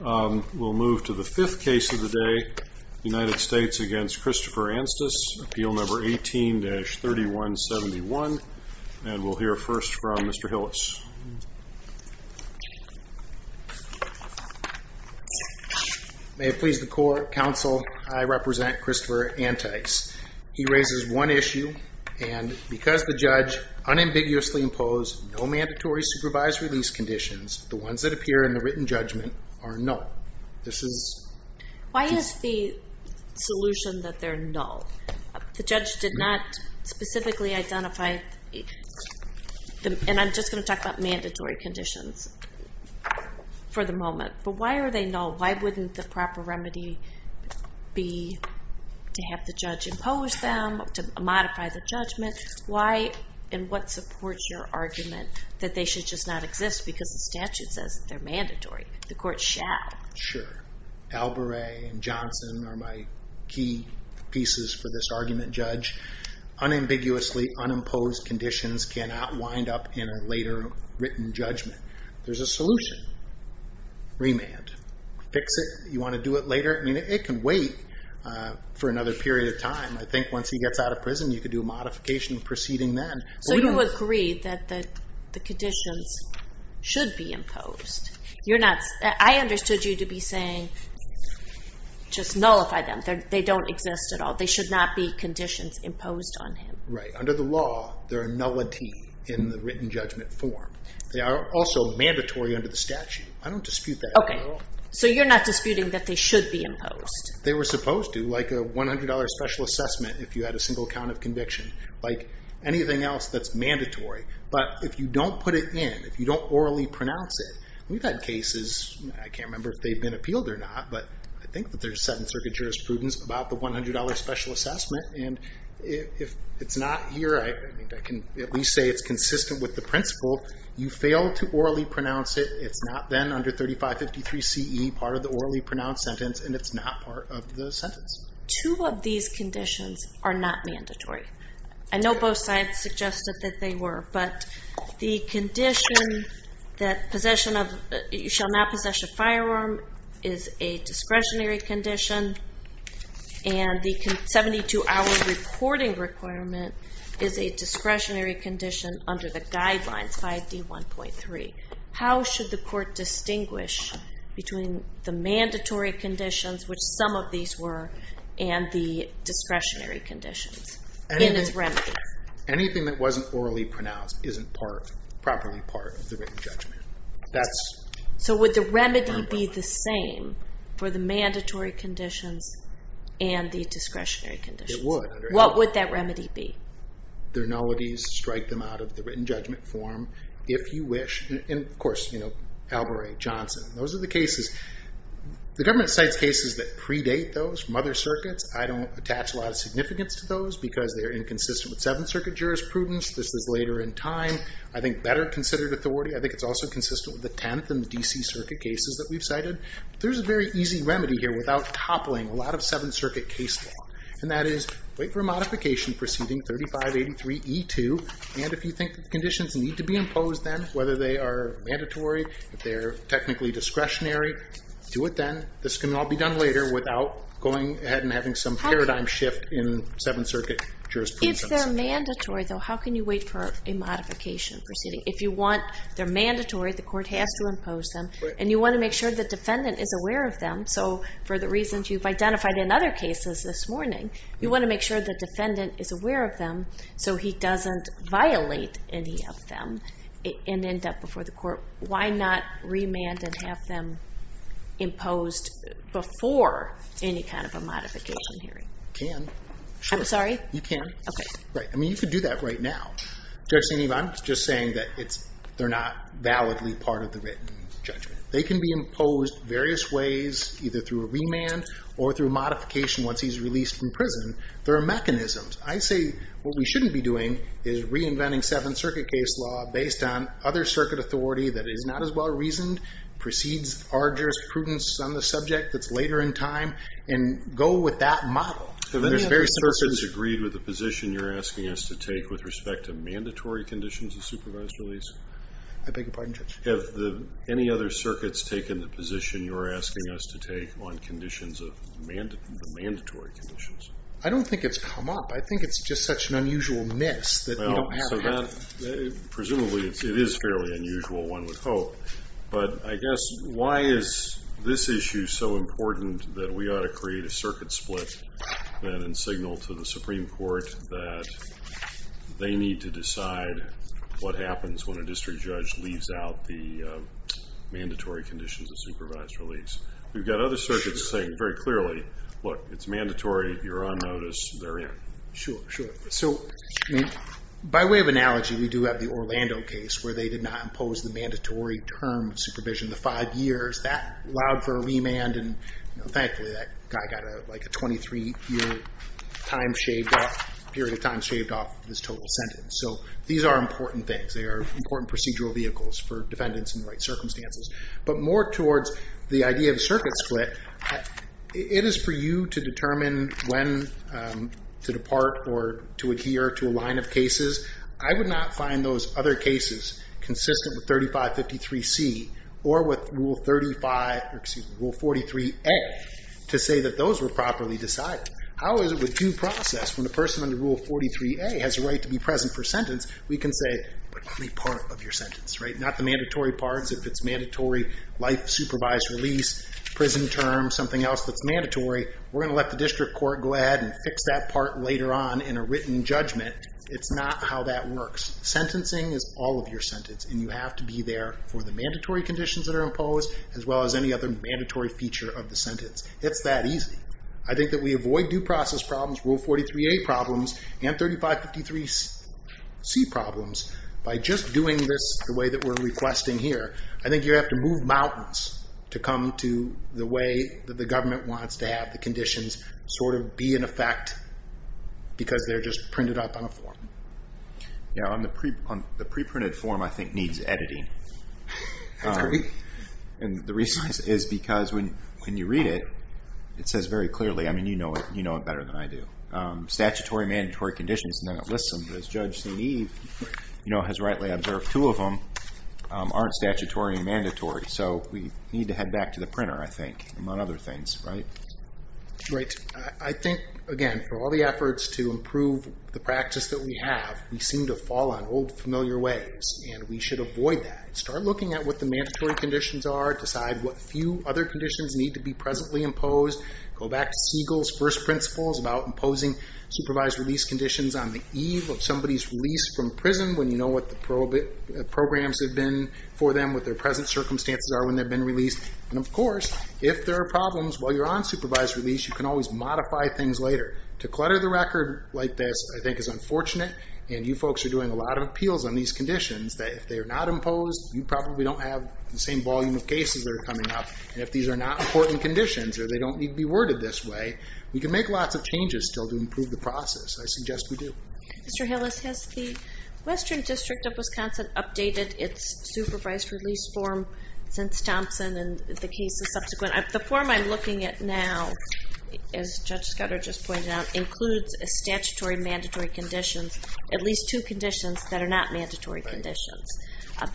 We'll move to the fifth case of the day, United States v. Christopher Anstice, appeal number 18-3171. And we'll hear first from Mr. Hillis. May it please the court, counsel, I represent Christopher Antice. He raises one issue, and because the judge unambiguously imposed no mandatory supervised release conditions, the ones that appear in the written judgment are null. This is... Why is the solution that they're null? The judge did not specifically identify... And I'm just gonna talk about mandatory conditions for the moment, but why are they null? Why wouldn't the proper remedy be to have the judge impose them, to modify the judgment? Why and what supports your argument that they should just not exist because the statute says they're mandatory? The court shall. Sure. Alboret and Johnson are my key pieces for this argument, judge. Unambiguously unimposed conditions cannot wind up in a later written judgment. There's a solution. Remand. Fix it. You want to do it later? I mean, it can wait for another period of time. I think once he gets out of prison, you could do a modification proceeding then. So you agree that the conditions should be imposed. You're not... I understood you to be saying, just nullify them. They don't exist at all. They should not be conditions imposed on him. Right. Under the law, there are nullity in the written judgment form. They are also mandatory under the statute. I don't dispute that at all. So you're not disputing that they should be imposed? They were supposed to, like a $100 special assessment if you had a single count of conviction, like anything else that's mandatory. But if you don't put it in, if you don't orally pronounce it, we've had cases, I can't remember if they've been appealed or not, but I think that there's a 7th Circuit jurisprudence about the $100 special assessment. And if it's not here, I can at least say it's consistent with the principle. You fail to orally pronounce it. It's not then under 3553 CE, part of the orally pronounced sentence. And it's not part of the sentence. Two of these conditions are not mandatory. I know both sides suggested that they were, but the condition that you shall not possess a firearm is a discretionary condition. And the 72 hour reporting requirement is a discretionary condition under the guidelines 5D1.3. How should the court distinguish between the mandatory conditions, which some of these were, and the discretionary conditions? Anything that wasn't orally pronounced isn't properly part of the written judgment. So would the remedy be the same for the mandatory conditions and the discretionary conditions? What would that remedy be? The nullities, strike them out of the written judgment form, if you wish. And of course, you know, Albury, Johnson, those are the cases. The government cites cases that predate those from other circuits. I don't attach a lot of significance to those because they're inconsistent with Seventh Circuit jurisprudence. This is later in time. I think better considered authority. I think it's also consistent with the 10th and the DC Circuit cases that we've cited. There's a very easy remedy here without toppling a lot of Seventh Circuit case law. And that is wait for a modification proceeding 3583 E2. And if you think that the conditions need to be imposed then, whether they are mandatory, if they're technically discretionary, do it then. This can all be done later without going ahead and having some paradigm shift in Seventh Circuit jurisprudence. If they're mandatory though, how can you wait for a modification proceeding? If you want, they're mandatory, the court has to impose them and you want to make sure the defendant is aware of them. So for the reasons you've identified in other cases this morning, you want to make sure the defendant is aware of them. So he doesn't violate any of them and end up before the court. Why not remand and have them imposed before any kind of a modification hearing? Can. I'm sorry? You can. Right. I mean, you could do that right now. Judge St. Ivan, I'm just saying that they're not validly part of the written judgment. They can be imposed various ways either through a remand or through modification once he's released from prison. There are mechanisms. I say what we shouldn't be doing is reinventing Seventh Circuit case law based on other circuit authority that is not as well-reasoned, precedes our jurisprudence on the subject that's later in time and go with that model. Have any other circuits agreed with the position you're asking us to take with respect to mandatory conditions of supervised release? I beg your pardon, Judge? Have any other circuits taken the position you're asking us to take on conditions of the mandatory conditions? I don't think it's come up. I think it's just such an unusual miss that we don't have that. Presumably it is fairly unusual, one would hope, but I guess why is this issue so important that we ought to create a circuit split then and signal to the Supreme Court that they need to decide what happens when a district judge leaves out the mandatory conditions of supervised release. We've got other circuits saying very clearly, look, it's mandatory. You're on notice. They're in. Sure, sure. So by way of analogy, we do have the Orlando case where they did not impose the mandatory term supervision, the five years that allowed for a remand. And thankfully that guy got like a 23 year period of time shaved off this total sentence. So these are important things. They are important procedural vehicles for defendants in the right circumstances, but more towards the idea of circuit split. It is for you to determine when to depart or to adhere to a line of cases. I would not find those other cases consistent with 3553C or with rule 45A to say that those were properly decided. How is it with due process? When the person under rule 43A has a right to be present for sentence, we can say, but only part of your sentence, right? Not the mandatory parts. If it's mandatory life supervised release, prison term, something else that's mandatory, we're going to let the district court go ahead and fix that part later on in a written judgment. It's not how that works. Sentencing is all of your sentence and you have to be there for the mandatory conditions that are imposed as well as any other mandatory feature of the sentence. It's that easy. I think that we avoid due process problems, rule 43A problems and 3553C problems by just doing this the way that we're requesting here. I think you have to move mountains to come to the way that the government wants to have the conditions sort of be in effect because they're just printed up on a form. Yeah. On the pre-printed form, I think needs editing. And the reason is because when you read it, it says very clearly, I mean, you know it better than I do. Statutory mandatory conditions, none of it lists them, but as Judge St. Eve has rightly observed, two of them aren't statutory and mandatory. So we need to head back to the printer, I think, among other things, right? Right. I think, again, for all the efforts to improve the practice that we have, we seem to fall on old familiar ways and we should avoid that. Start looking at what the mandatory conditions are. Decide what few other conditions need to be presently imposed. Go back to Siegel's first principles about imposing supervised release conditions on the eve of somebody's release from prison. When you know what the programs have been for them, what their present circumstances are when they've been released. And of course, if there are problems while you're on supervised release, you can always modify things later. To clutter the record like this, I think is unfortunate. And you folks are doing a lot of appeals on these conditions that if they are not imposed, you probably don't have the same volume of cases that are coming up. And if these are not important conditions or they don't need to be worded this way, we can make lots of changes still to improve the process. I suggest we do. Mr. Hillis, has the Western District of Wisconsin updated its supervised release form since Thompson and the cases subsequent? The form I'm looking at now, as Judge Scudder just pointed out, includes a statutory mandatory conditions, at least two conditions that are not mandatory conditions.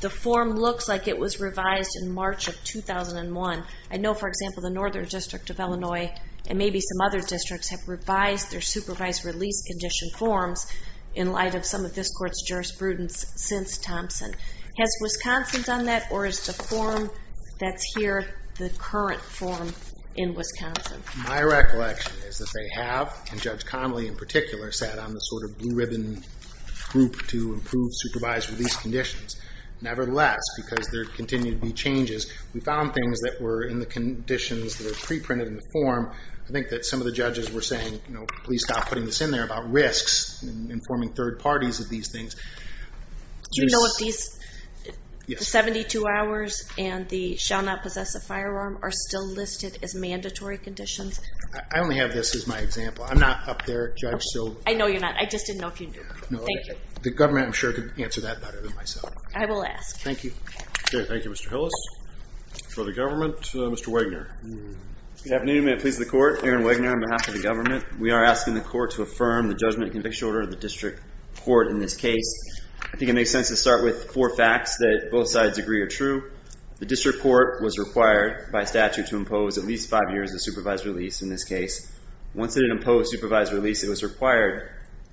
The form looks like it was revised in March of 2001. I know, for example, the Northern District of Illinois and maybe some other districts have revised their supervised release condition forms in light of some of this court's jurisprudence since Thompson. Has Wisconsin done that? Or is the form that's here the current form in Wisconsin? My recollection is that they have, and Judge Connolly in particular, sat on the sort of blue ribbon group to improve supervised release conditions. Nevertheless, because there continue to be changes, we found things that were in the conditions that are pre-printed in the form. I think that some of the judges were saying, you know, please stop putting this in there about risks and informing third parties of these things. Do you know if these 72 hours and the shall not possess a firearm are still listed as mandatory conditions? I only have this as my example. I'm not up there, Judge, so. I know you're not. I just didn't know if you knew. Thank you. The government, I'm sure, could answer that better than myself. I will ask. Thank you. Okay. Thank you, Mr. Hillis. For the government, Mr. Wagner. Good afternoon. May it please the court. Aaron Wagner on behalf of the government. We are asking the court to affirm the judgment and conviction order of the district court in this case. I think it makes sense to start with four facts that both sides agree are true. The district court was required by statute to impose at least five years of supervised release in this case. Once it imposed supervised release, it was required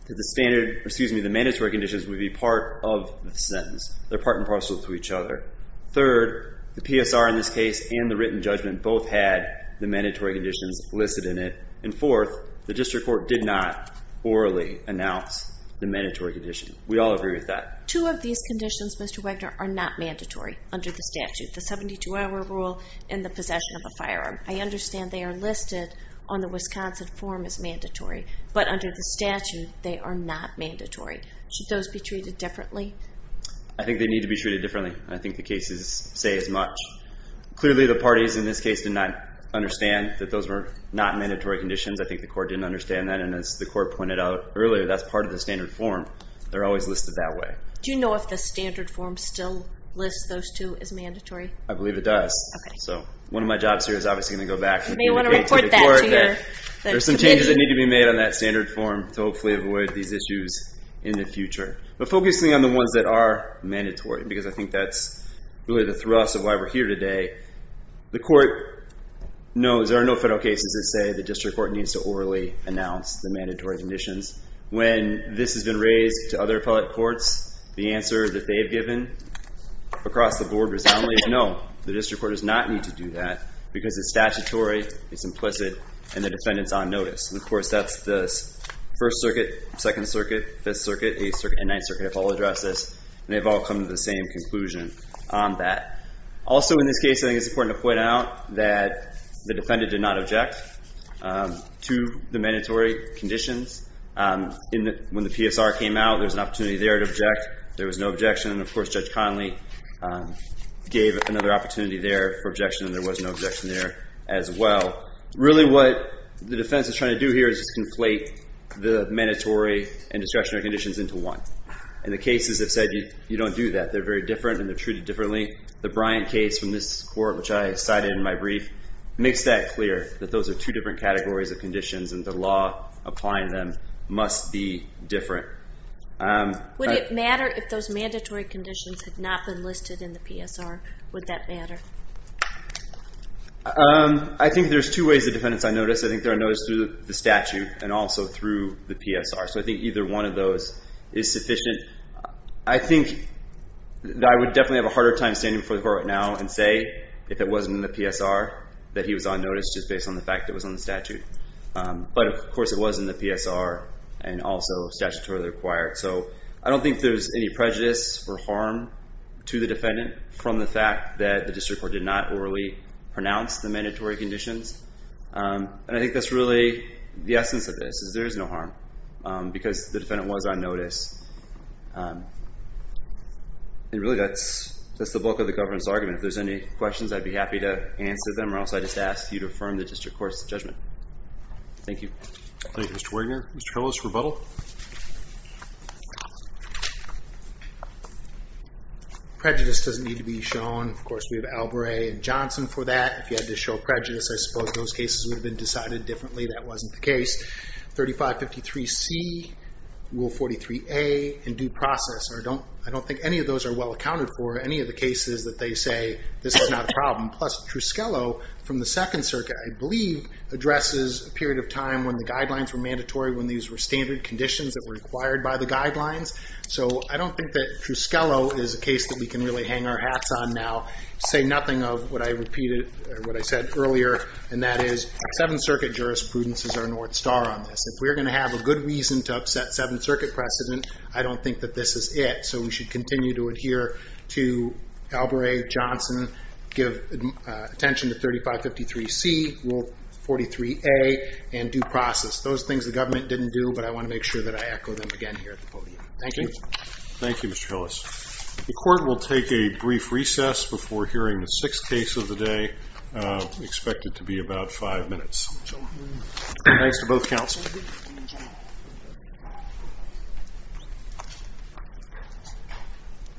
that the standard, excuse me, the mandatory conditions would be part of the sentence. They're part and parcel to each other. Third, the PSR in this case, and the written judgment both had the mandatory conditions listed in it. And fourth, the district court did not orally announce the mandatory condition. We all agree with that. Two of these conditions, Mr. Wagner, are not mandatory under the statute, the 72 hour rule and the possession of a firearm. I understand they are listed on the Wisconsin form as mandatory, but under the statute, they are not mandatory. Should those be treated differently? I think they need to be treated differently. I think the cases say as much. Clearly the parties in this case did not understand that those were not mandatory conditions. I think the court didn't understand that. And as the court pointed out earlier, that's part of the standard form. They're always listed that way. Do you know if the standard form still lists those two as mandatory? I believe it does. So one of my jobs here is obviously going to go back to the court. There's some changes that need to be made on that standard form to hopefully avoid these issues in the future. But focusing on the ones that are mandatory, because I think that's really the thrust of why we're here today. The court knows there are no federal cases that say the district court needs to orally announce the mandatory conditions. When this has been raised to other appellate courts, the answer that they've given across the board resoundingly is no, the district court does not need to do that because it's statutory, it's implicit and the defendant's on notice. And of course, that's the first circuit, second circuit, fifth circuit, eighth circuit, ninth circuit have all addressed this and they've all come to the same conclusion on that. Also in this case, I think it's important to point out that the defendant did not object to the mandatory conditions. When the PSR came out, there was an opportunity there to object. There was no objection. And of course, Judge Connolly gave another opportunity there for objection and there was no objection there as well. Really what the defense is trying to do here is just conflate the mandatory and the cases have said, you don't do that. They're very different and they're treated differently. The Bryant case from this court, which I cited in my brief makes that clear that those are two different categories of conditions and the law applying them must be different. Would it matter if those mandatory conditions had not been listed in the PSR? Would that matter? I think there's two ways the defendants are noticed. I think they're noticed through the statute and also through the PSR. So I think either one of those is sufficient. I think that I would definitely have a harder time standing before the court now and say if it wasn't in the PSR that he was on notice just based on the fact that it was on the statute. But of course it was in the PSR and also statutorily required. So I don't think there's any prejudice or harm to the defendant from the fact that the district court did not orally pronounce the mandatory conditions. And I think that's really the essence of this is there is no harm because the defendant was on notice. It really that's, that's the bulk of the government's argument. If there's any questions, I'd be happy to answer them or else I just asked you to affirm the district court's judgment. Thank you. Thank you, Mr. Wigner. Mr. Hillis, rebuttal. Prejudice doesn't need to be shown. Of course, we have Alvare and Johnson for that. If you had to show prejudice, I suppose those cases would have been decided differently. That wasn't the case. 3553 C, rule 43 A in due process, or don't, I don't think any of those are well accounted for any of the cases that they say this is not a problem. Plus Trusquillo from the second circuit, I believe addresses a period of time when the guidelines were mandatory, when these were standard conditions that were required by the guidelines. So I don't think that Trusquillo is a case that we can really hang our hats on now, say nothing of what I repeated, what I said earlier, and that is seventh circuit jurisprudence is our North star on this. If we're going to have a good reason to upset seventh circuit precedent, I don't think that this is it. So we should continue to adhere to Alvare, Johnson, give attention to 3553 C, rule 43 A in due process. Those things the government didn't do, but I want to make sure that I echo them again here at the podium. Thank you. Thank you, Mr. Hillis. The court will take a brief recess before hearing the sixth case of the day, expected to be about five minutes. Thanks to both counsel.